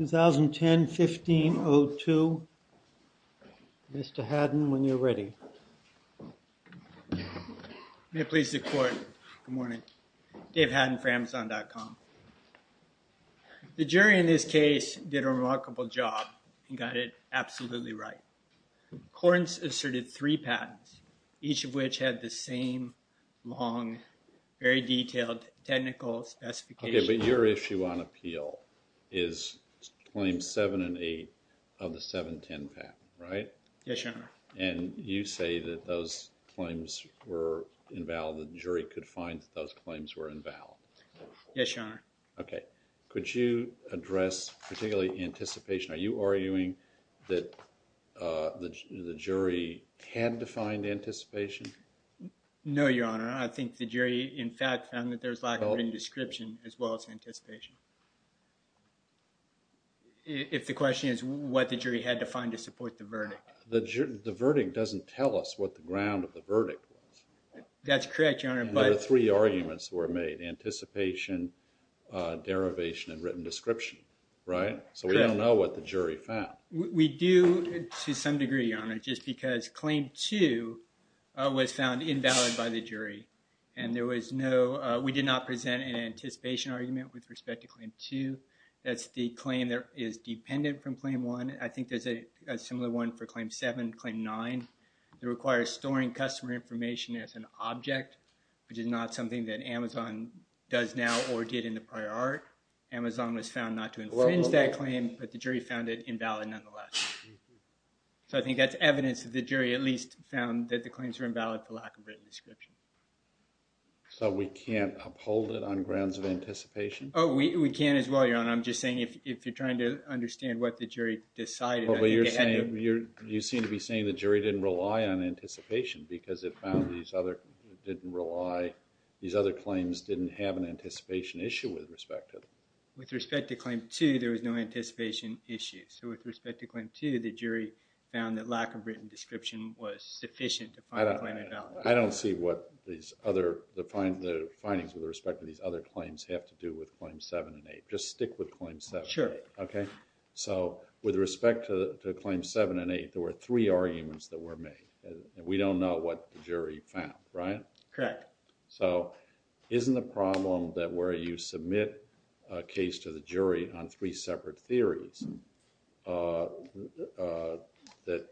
2010-15-02 Mr. Haddon, when you're ready. The jury in this case did a remarkable job and got it absolutely right. CORDANCE asserted three patents, each of which had the same long, very detailed technical specifications. But your issue on appeal is Claims Seven and Eight of the 710 patent, right? Yes, your Honor. And you say that those claims were invalid, that the jury could find that those claims were invalid. Yes, your Honor. Okay. Could you address particularly anticipation? Are you arguing that the jury had to find anticipation? No, your Honor. I think the jury, in fact, found that there was lack of any description as well as anticipation. If the question is what the jury had to find to support the verdict. The verdict doesn't tell us what the ground of the verdict was. That's correct, your Honor. There were three arguments that were made, anticipation, derivation, and written description, right? Correct. So we don't know what the jury found. We do to some degree, your Honor, just because Claim Two was found invalid by the jury. And there was no, we did not present an anticipation argument with respect to Claim Two. That's the claim that is dependent from Claim One. I think there's a similar one for Claim Seven, Claim Nine, that requires storing customer information as an object, which is not something that Amazon does now or did in the prior art. Amazon was found not to infringe that claim, but the jury found it invalid nonetheless. So I think that's evidence that the jury at least found that the claims were invalid for lack of written description. So we can't uphold it on grounds of anticipation? Oh, we can as well, your Honor. I'm just saying if you're trying to understand what the jury decided, I think it had to be You seem to be saying the jury didn't rely on anticipation because it found these other didn't rely, these other claims didn't have an anticipation issue with respect to them. With respect to Claim Two, there was no anticipation issue. So with respect to Claim Two, the jury found that lack of written description was sufficient to find a claim invalid. I don't see what these other, the findings with respect to these other claims have to do with Claim Seven and Eight. Just stick with Claim Seven and Eight. So with respect to Claim Seven and Eight, there were three arguments that were made. We don't know what the jury found, right? Correct. So isn't the problem that where you submit a case to the jury on three separate theories, that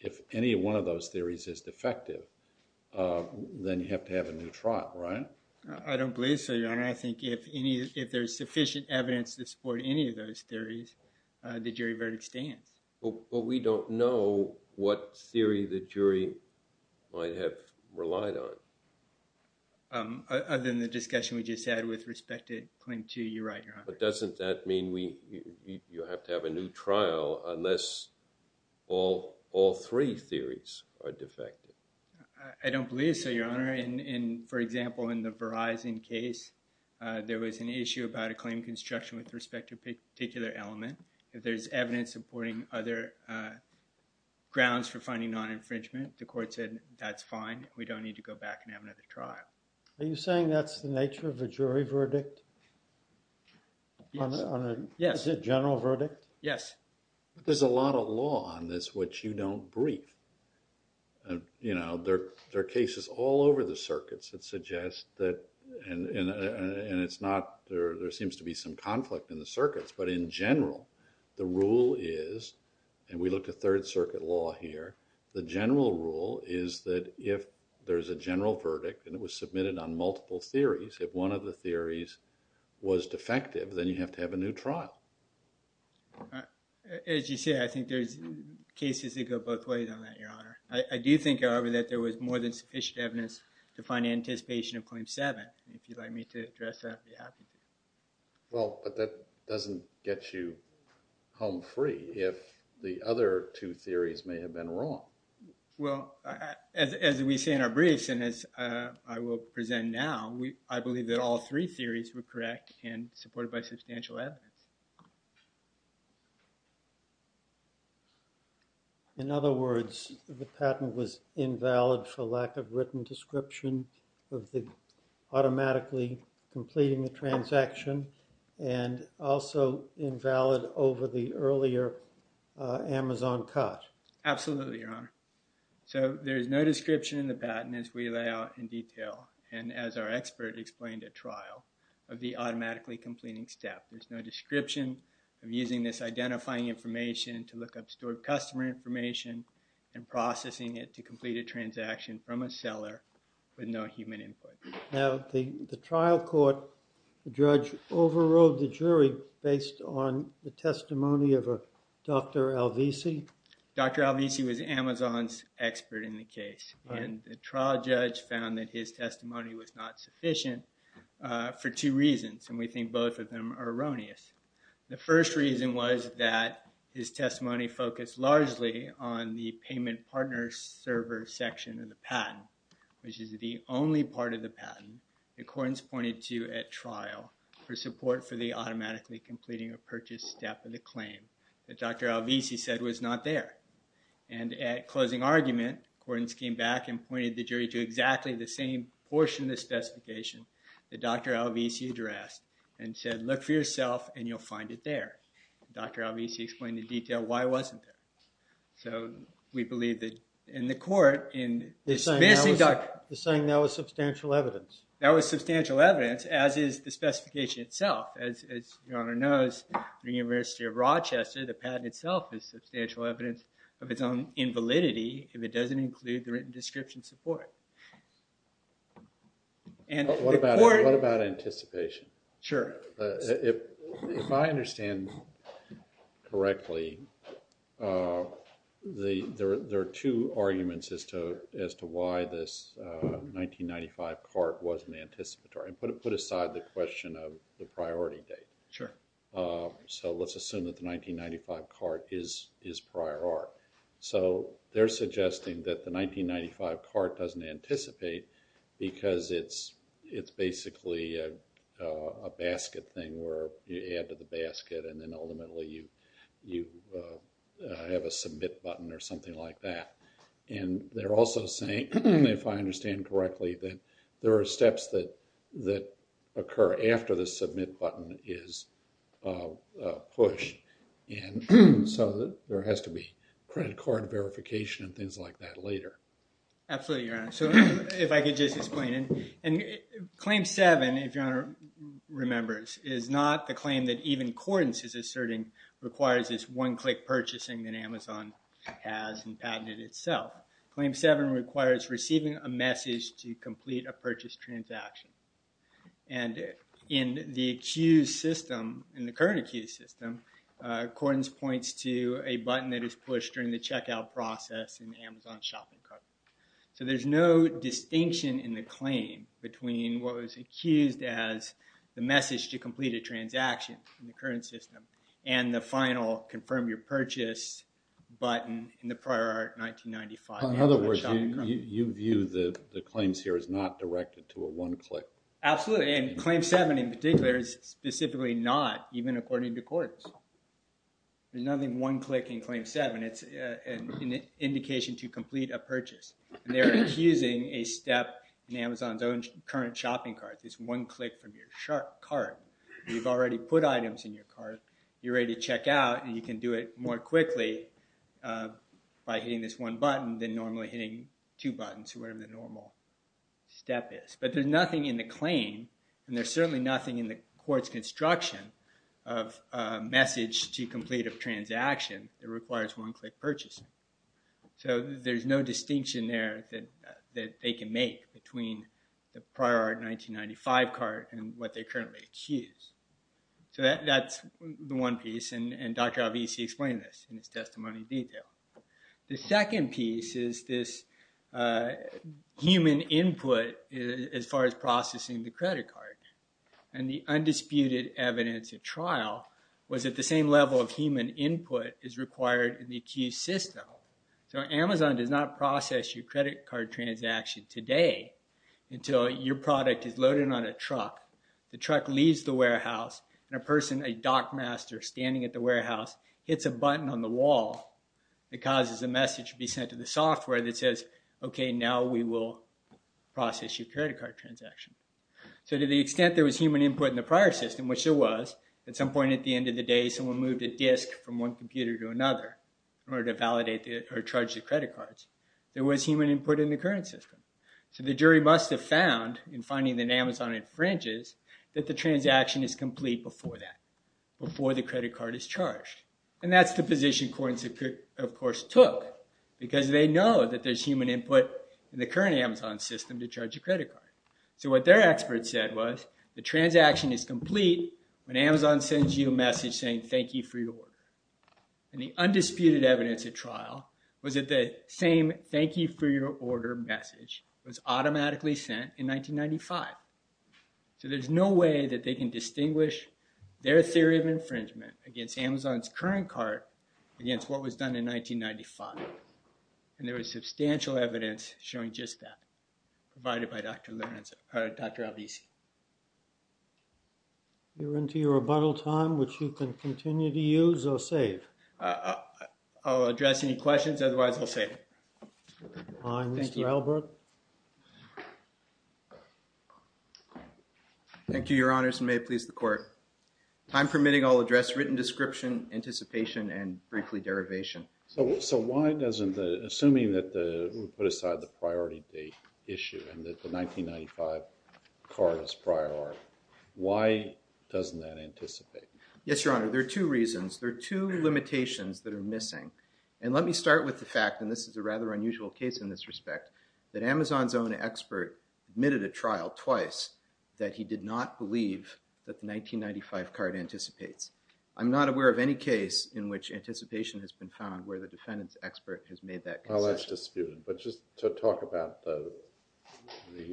if any one of those theories is defective, then you have to have a new trial, right? I don't believe so, your Honor. I think if any, if there's sufficient evidence to support any of those theories, the jury verdict stands. But we don't know what theory the jury might have relied on. Other than the discussion we just had with respect to Claim Two, you're right, your Honor. But doesn't that mean you have to have a new trial unless all three theories are defective? I don't believe so, your Honor. For example, in the Verizon case, there was an issue about a claim construction with respect to a particular element. If there's evidence supporting other grounds for finding non-infringement, the court said, that's fine. We don't need to go back and have another trial. Are you saying that's the nature of a jury verdict? Yes. On a general verdict? Yes. There's a lot of law on this which you don't brief. You know, there are cases all over the circuits that suggest that, and it's not, there seems to be some conflict in the circuits, but in general, the rule is, and we look at Third Circuit law here, the general rule is that if there's a general verdict and it was submitted on multiple theories, if one of the theories was defective, then you have to have a new trial. As you say, I think there's cases that go both ways on that, your Honor. I do think, however, that there was more than sufficient evidence to find anticipation of Well, but that doesn't get you home free if the other two theories may have been wrong. Well, as we say in our briefs, and as I will present now, I believe that all three theories were correct and supported by substantial evidence. In other words, the patent was invalid for lack of written description of the automatically completing the transaction, and also invalid over the earlier Amazon cut. Absolutely, your Honor. So there's no description in the patent as we lay out in detail, and as our expert explained at trial, of the automatically completing step. There's no description of using this identifying information to look up stored customer information and processing it to complete a transaction from a seller with no human input. Now, the trial court, the judge overrode the jury based on the testimony of a Dr. Alvisi? Dr. Alvisi was Amazon's expert in the case, and the trial judge found that his testimony was not sufficient for two reasons, and we think both of them are erroneous. The first reason was that his testimony focused largely on the payment partner server section of the patent, which is the only part of the patent the court has pointed to at trial for support for the automatically completing a purchase step of the claim that Dr. Alvisi said was not there. And at closing argument, the court came back and pointed the jury to exactly the same portion of the specification that Dr. Alvisi addressed and said, look for yourself and you'll find it there. Dr. Alvisi explained in detail why it wasn't there. So we believe that in the court, in this missing document. You're saying that was substantial evidence? That was substantial evidence, as is the specification itself. As your honor knows, the University of Rochester, the patent itself is substantial evidence of its own invalidity if it doesn't include the written description support. What about anticipation? Sure. If I understand correctly, there are two arguments as to why this 1995 cart wasn't anticipatory. Put aside the question of the priority date. Sure. So let's assume that the 1995 cart is prior art. So they're suggesting that the 1995 cart doesn't anticipate because it's basically a basket thing where you add to the basket and then ultimately you have a submit button or something like that. And they're also saying, if I understand correctly, that there are steps that occur after the submit button is pushed. And so there has to be credit card verification and things like that later. Absolutely, your honor. So if I could just explain. Claim seven, if your honor remembers, is not the claim that even Cordon's is asserting requires this one-click purchasing that Amazon has and patented itself. Claim seven requires receiving a message to complete a purchase transaction. And in the accused system, in the current accused system, Cordon's points to a button that is pushed during the checkout process in the Amazon shopping cart. So there's no distinction in the claim between what was accused as the message to complete a transaction in the current system and the final confirm your purchase button in the prior art 1995. In other words, you view the claims here as not directed to a one-click. Absolutely. And claim seven in particular is specifically not, even according to Cordon's. There's nothing one-click in claim seven. It's an indication to complete a purchase. And they're accusing a step in Amazon's own current shopping cart, this one-click from your cart. You've already put items in your cart, you're ready to check out, and you can do it more quickly by hitting this one button than normally hitting two buttons, whatever the normal step is. But there's nothing in the claim, and there's certainly nothing in the court's construction of a message to complete a transaction that requires one-click purchasing. So there's no distinction there that they can make between the prior art 1995 cart and what they currently accuse. So that's the one piece. And Dr. Avici explained this in his testimony in detail. The second piece is this human input as far as processing the credit card. And the undisputed evidence at trial was that the same level of human input is required in the accused system. So Amazon does not process your credit card transaction today until your product is loaded on a truck. The truck leaves the warehouse, and a person, a dockmaster standing at the warehouse, hits a button on the wall that causes a message to be sent to the software that says, okay, now we will process your credit card transaction. So to the extent there was human input in the prior system, which there was, at some point at the end of the day someone moved a disk from one computer to another in order to validate or charge the credit cards, there was human input in the current system. So the jury must have found, in finding that Amazon infringes, that the transaction is complete before that, before the credit card is charged. And that's the position courts, of course, took, because they know that there's human input in the current Amazon system to charge a credit card. So what their expert said was, the transaction is complete when Amazon sends you a message saying thank you for your order. And the undisputed evidence at trial was that the same thank you for your order message was automatically sent in 1995. So there's no way that they can distinguish their theory of infringement against Amazon's current card against what was done in 1995. And there was substantial evidence showing just that, provided by Dr. Lorenzo, or Dr. Albisi. You're into your rebuttal time, which you can continue to use or save? I'll address any questions, otherwise I'll save it. Fine. Thank you. Mr. Albert? Thank you, Your Honors, and may it please the court. Time permitting, I'll address written description, anticipation, and briefly, derivation. So why doesn't, assuming that we put aside the priority date issue and that the 1995 card is prior, why doesn't that anticipate? Yes, Your Honor, there are two reasons. There are two limitations that are missing. And let me start with the fact, and this is a rather unusual case in this respect, that Amazon's own expert admitted at trial twice that he did not believe that the 1995 card anticipates. I'm not aware of any case in which anticipation has been found where the defendant's expert has made that concession. Well, that's disputed. But just to talk about the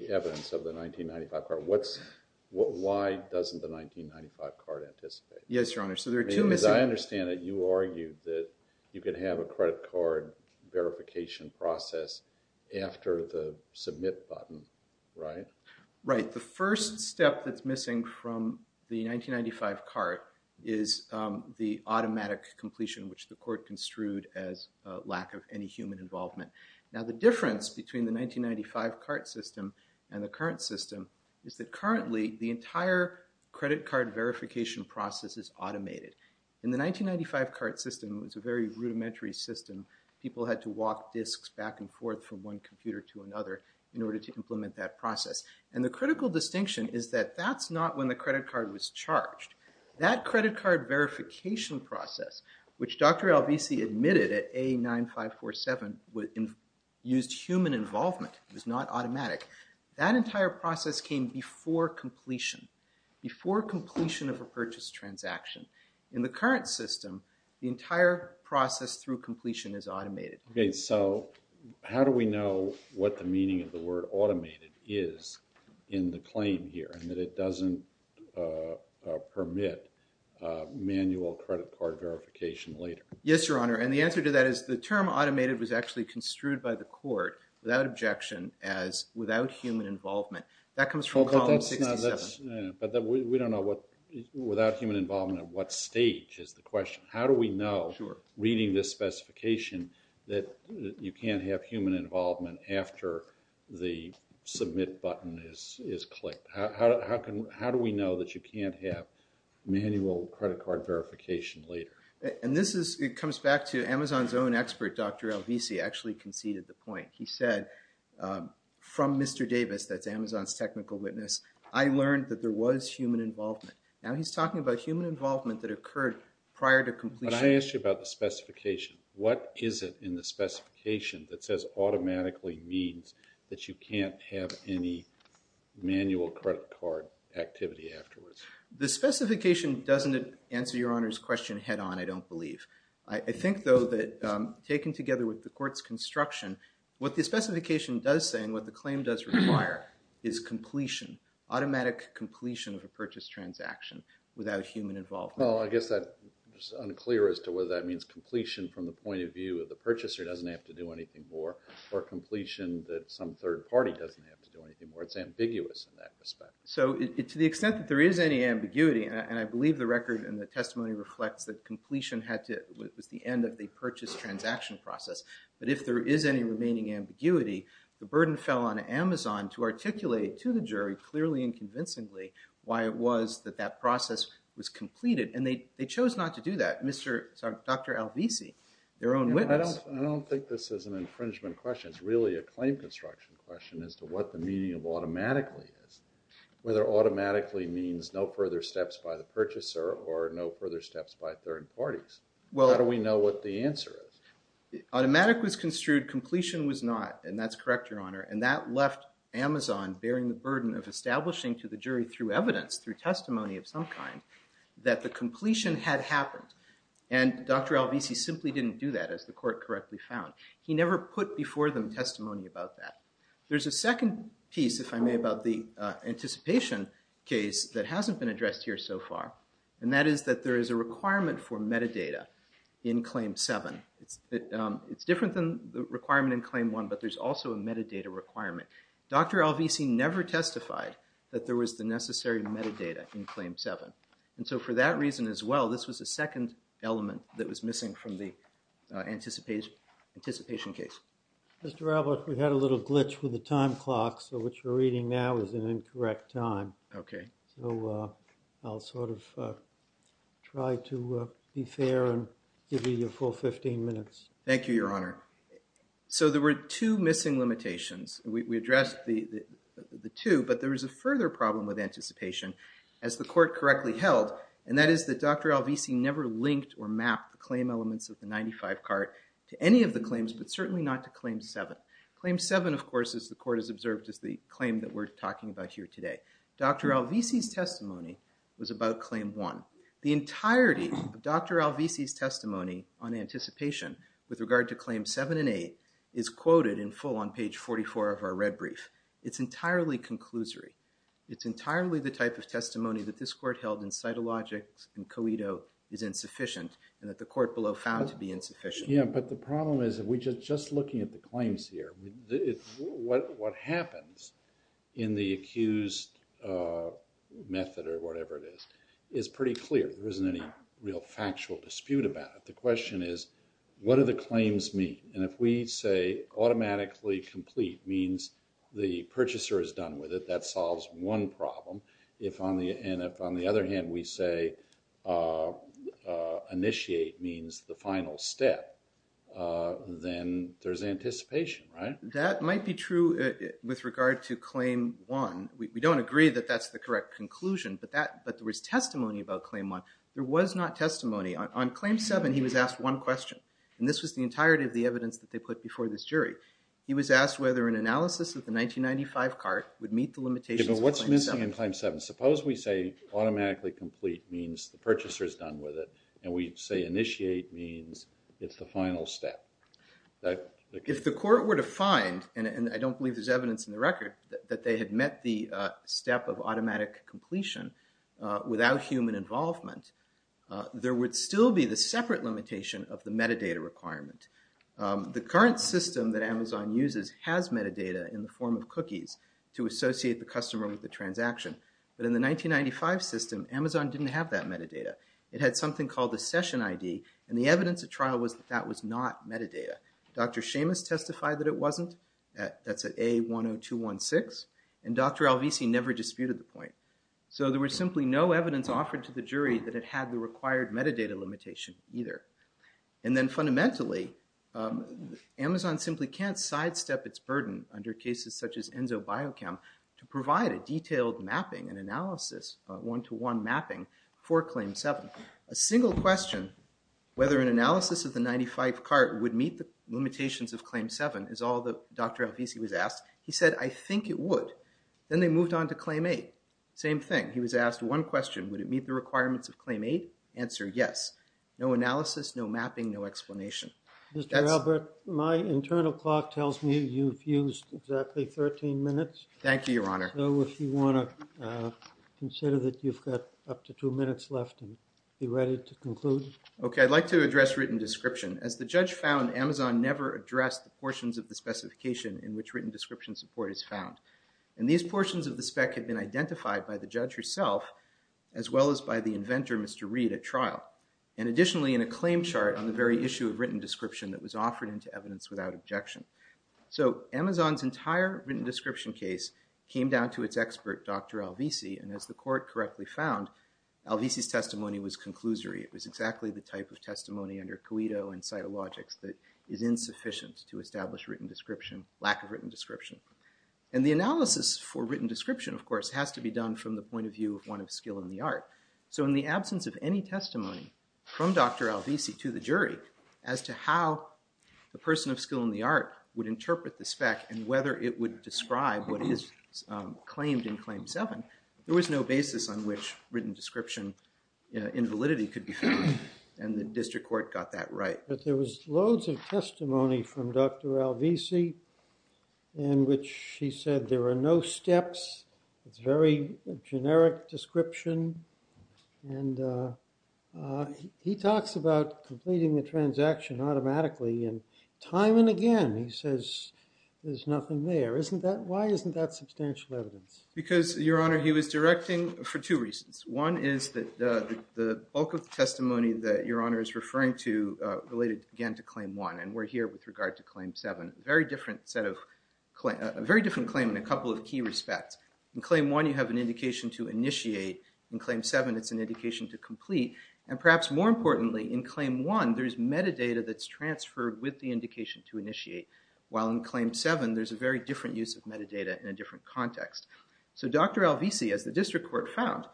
evidence of the 1995 card, why doesn't the 1995 card anticipate? Yes, Your Honor. So there are two missing. Because I understand that you argued that you could have a credit card verification process after the Submit button, right? Right. The first step that's missing from the 1995 card is the automatic completion, which the court construed as lack of any human involvement. Now, the difference between the 1995 card system and the current system is that currently the entire credit card verification process is automated. In the 1995 card system, it was a very rudimentary system. People had to walk disks back and forth from one computer to another in order to implement that process. And the critical distinction is that that's not when the credit card was charged. That credit card verification process, which Dr. Albisi admitted at A9547, used human involvement. It was not automatic. That entire process came before completion, before completion of a purchase transaction. In the current system, the entire process through completion is automated. Okay. So how do we know what the meaning of the word automated is in the claim here and that doesn't permit manual credit card verification later? Yes, Your Honor. And the answer to that is the term automated was actually construed by the court, without objection, as without human involvement. That comes from Column 67. But we don't know what, without human involvement, at what stage is the question. How do we know, reading this specification, that you can't have human involvement after the Submit button is clicked? How do we know that you can't have manual credit card verification later? And this is, it comes back to Amazon's own expert, Dr. Albisi, actually conceded the point. He said, from Mr. Davis, that's Amazon's technical witness, I learned that there was human involvement. Now he's talking about human involvement that occurred prior to completion. But I asked you about the specification. What is it in the specification that says automatically means that you can't have any manual credit card activity afterwards? The specification doesn't answer Your Honor's question head on, I don't believe. I think, though, that taken together with the court's construction, what the specification does say and what the claim does require is completion, automatic completion of a purchase transaction without human involvement. Well, I guess that's unclear as to whether that means completion from the point of view of the purchaser doesn't have to do anything more, or completion that some third party doesn't have to do anything more. It's ambiguous in that respect. So, to the extent that there is any ambiguity, and I believe the record and the testimony reflects that completion was the end of the purchase transaction process. But if there is any remaining ambiguity, the burden fell on Amazon to articulate to the And they chose not to do that. Dr. Alvisi, their own witness. I don't think this is an infringement question. It's really a claim construction question as to what the meaning of automatically is. Whether automatically means no further steps by the purchaser or no further steps by third parties. How do we know what the answer is? Automatic was construed, completion was not. And that's correct, Your Honor. And that left Amazon bearing the burden of establishing to the jury through evidence, through testimony of some kind, that the completion had happened. And Dr. Alvisi simply didn't do that, as the court correctly found. He never put before them testimony about that. There's a second piece, if I may, about the anticipation case that hasn't been addressed here so far. And that is that there is a requirement for metadata in Claim 7. It's different than the requirement in Claim 1, but there's also a metadata requirement. Dr. Alvisi never testified that there was the necessary metadata in Claim 7. And so for that reason as well, this was the second element that was missing from the anticipation case. Mr. Alvis, we had a little glitch with the time clock. So what you're reading now is an incorrect time. OK. So I'll sort of try to be fair and give you your full 15 minutes. Thank you, Your Honor. So there were two missing limitations. We addressed the two. But there was a further problem with anticipation, as the court correctly held. And that is that Dr. Alvisi never linked or mapped the claim elements of the 95 cart to any of the claims, but certainly not to Claim 7. Claim 7, of course, as the court has observed, is the claim that we're talking about here today. Dr. Alvisi's testimony was about Claim 1. The entirety of Dr. Alvisi's testimony on anticipation with regard to Claim 7 and 8 is quoted in full on page 44 of our red brief. It's entirely conclusory. It's entirely the type of testimony that this court held in Cytologics and Coedo is insufficient, and that the court below found to be insufficient. Yeah, but the problem is that we're just looking at the claims here. What happens in the accused method, or whatever it is, is pretty clear. There isn't any real factual dispute about it. The question is, what do the claims mean? And if we say automatically complete means the purchaser is done with it, that solves one problem. And if on the other hand we say initiate means the final step, then there's anticipation, right? That might be true with regard to Claim 1. We don't agree that that's the correct conclusion, but there was testimony about Claim 1. There was not testimony. On Claim 7, he was asked one question, and this was the entirety of the evidence that they put before this jury. He was asked whether an analysis of the 1995 cart would meet the limitations of Claim 7. Yeah, but what's missing in Claim 7? Suppose we say automatically complete means the purchaser is done with it, and we say initiate means it's the final step. If the court were to find, and I don't believe there's evidence in the record, that they had met the step of automatic completion without human involvement, there would still be the separate limitation of the metadata requirement. The current system that Amazon uses has metadata in the form of cookies to associate the customer with the transaction. But in the 1995 system, Amazon didn't have that metadata. It had something called the session ID, and the evidence at trial was that that was not metadata. Dr. Seamus testified that it wasn't. That's at A10216, and Dr. Alvisi never disputed the point. So there was simply no evidence offered to the jury that it had the required metadata limitation either. And then fundamentally, Amazon simply can't sidestep its burden under cases such as Enso Biochem to provide a detailed mapping, an analysis, a one-to-one mapping for Claim 7. A single question, whether an analysis of the 95 cart would meet the limitations of Claim 7, is all that Dr. Alvisi was asked. He said, I think it would. Then they moved on to Claim 8. Same thing. He was asked one question. Would it meet the requirements of Claim 8? Answer, yes. No analysis, no mapping, no explanation. Mr. Albert, my internal clock tells me you've used exactly 13 minutes. Thank you, Your Honor. So if you want to consider that you've got up to two minutes left and be ready to conclude. OK. I'd like to address written description. As the judge found, Amazon never addressed the portions of the specification in which written description support is found. And these portions of the spec had been identified by the judge herself, as well as by the inventor, Mr. Reed, at trial. And additionally, in a claim chart on the very issue of written description that was offered into evidence without objection. So Amazon's entire written description case came down to its expert, Dr. Alvisi. And as the court correctly found, Alvisi's testimony was conclusory. It was exactly the type of testimony under Cuito and cytologics that is insufficient to establish written description, lack of written description. And the analysis for written description, of course, has to be done from the point of view of one of skill in the art. So in the absence of any testimony from Dr. Alvisi to the jury as to how a person of skill in the art would interpret the spec and whether it would describe what is claimed in Claim 7, there was no basis on which written description invalidity could be found. And the district court got that right. But there was loads of testimony from Dr. Alvisi in which he said there are no steps. It's a very generic description. And he talks about completing the transaction automatically. And time and again, he says there's nothing there. Why isn't that substantial evidence? Because, Your Honor, he was directing for two reasons. One is that the bulk of the testimony that Your Honor is referring to related, again, to Claim 1. And we're here with regard to Claim 7, a very different claim in a couple of key respects. In Claim 1, you have an indication to initiate. In Claim 7, it's an indication to complete. And perhaps more importantly, in Claim 1, there's metadata that's transferred with the indication to initiate. While in Claim 7, there's a very different use of metadata in a different context. So Dr. Alvisi, as the district court found,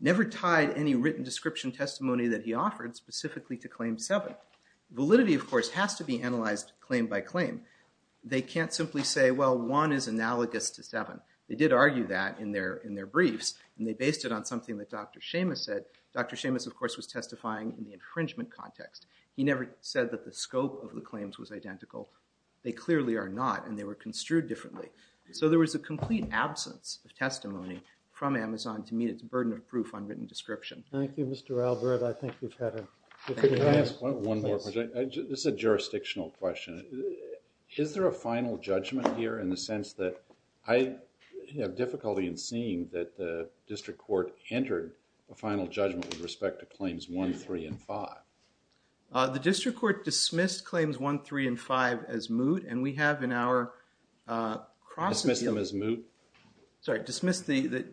never tied any written description testimony that he offered specifically to Claim 7. Validity, of course, has to be analyzed claim by claim. They can't simply say, well, 1 is analogous to 7. They did argue that in their briefs. And they based it on something that Dr. Seamus said. Dr. Seamus, of course, was testifying in the infringement context. He never said that the scope of the claims was identical. They clearly are not. And they were construed differently. So there was a complete absence of testimony from Amazon to meet its burden of proof on written description. Thank you, Mr. Albert. I think we've had a good time. Let me ask one more question. This is a jurisdictional question. Is there a final judgment here in the sense that I have difficulty in seeing that the district court entered a final judgment with respect to Claims 1, 3, and 5? The district court dismissed Claims 1, 3, and 5 as moot. And we have in our cross-appeal. Dismissed them as moot? Sorry, dismissed the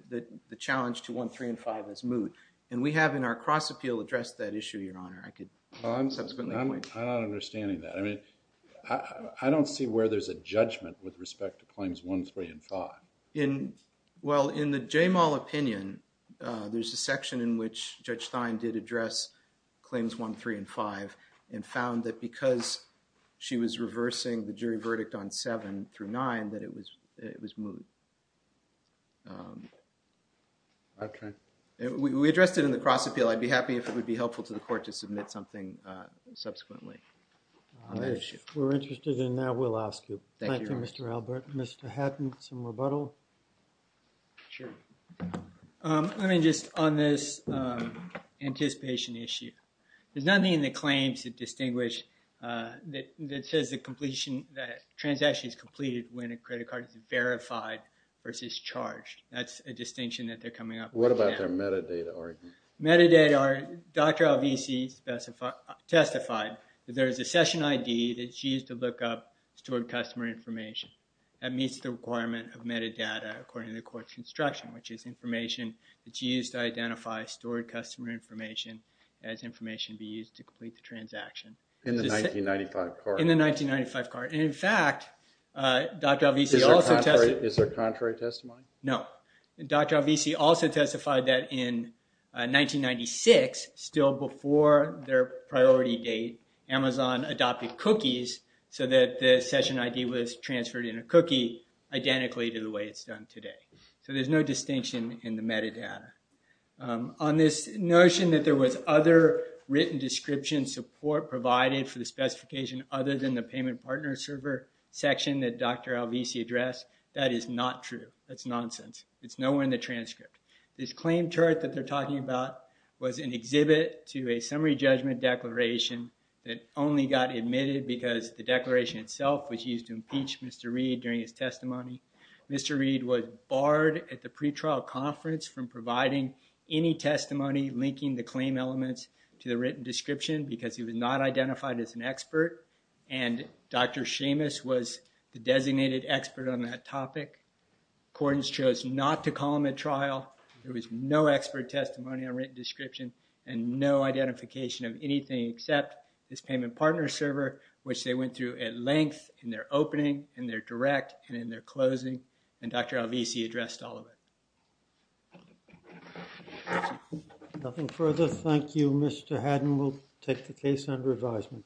challenge to 1, 3, and 5 as moot. And we have in our cross-appeal addressed that issue, Your Honor. I'm not understanding that. I don't see where there's a judgment with respect to Claims 1, 3, and 5. Well, in the Jamal opinion, there's a section in which Judge Stein did address Claims 1, 3, and 5 and found that because she was reversing the jury verdict on 7 through 9 that it was moot. Okay. We addressed it in the cross-appeal. I'd be happy if it would be helpful to the court to submit something subsequently. If we're interested in that, we'll ask you. Thank you, Mr. Albert. Mr. Hatton, some rebuttal? Sure. I mean, just on this anticipation issue. There's nothing in the claims that says the transaction is completed when a credit card is verified versus charged. That's a distinction that they're coming up with now. What about their metadata? Metadata, Dr. Alvisi testified that there's a session ID that she used to look up stored customer information. That meets the requirement of metadata according to the court's construction, which is information that she used to identify stored customer information as information to be used to complete the transaction. In the 1995 card? In the 1995 card. And, in fact, Dr. Alvisi also testified— Is there contrary testimony? No. Dr. Alvisi also testified that in 1996, still before their priority date, Amazon adopted cookies so that the session ID was transferred in a cookie identically to the way it's done today. So there's no distinction in the metadata. On this notion that there was other written description support provided for the specification other than the payment partner server section that Dr. Alvisi addressed, that is not true. That's nonsense. It's nowhere in the transcript. This claim chart that they're talking about was an exhibit to a summary judgment declaration that only got admitted because the declaration itself was used to impeach Mr. Reed during his testimony. Mr. Reed was barred at the pretrial conference from providing any testimony linking the claim elements to the written description because he was not identified as an expert, and Dr. Seamus was the designated expert on that topic. Accordance chose not to call him at trial. There was no expert testimony on written description and no identification of anything except this payment partner server, which they went through at length in their opening, in their direct, and in their closing. And Dr. Alvisi addressed all of it. Nothing further. Thank you, Mr. Haddon. We'll take the case under advisement.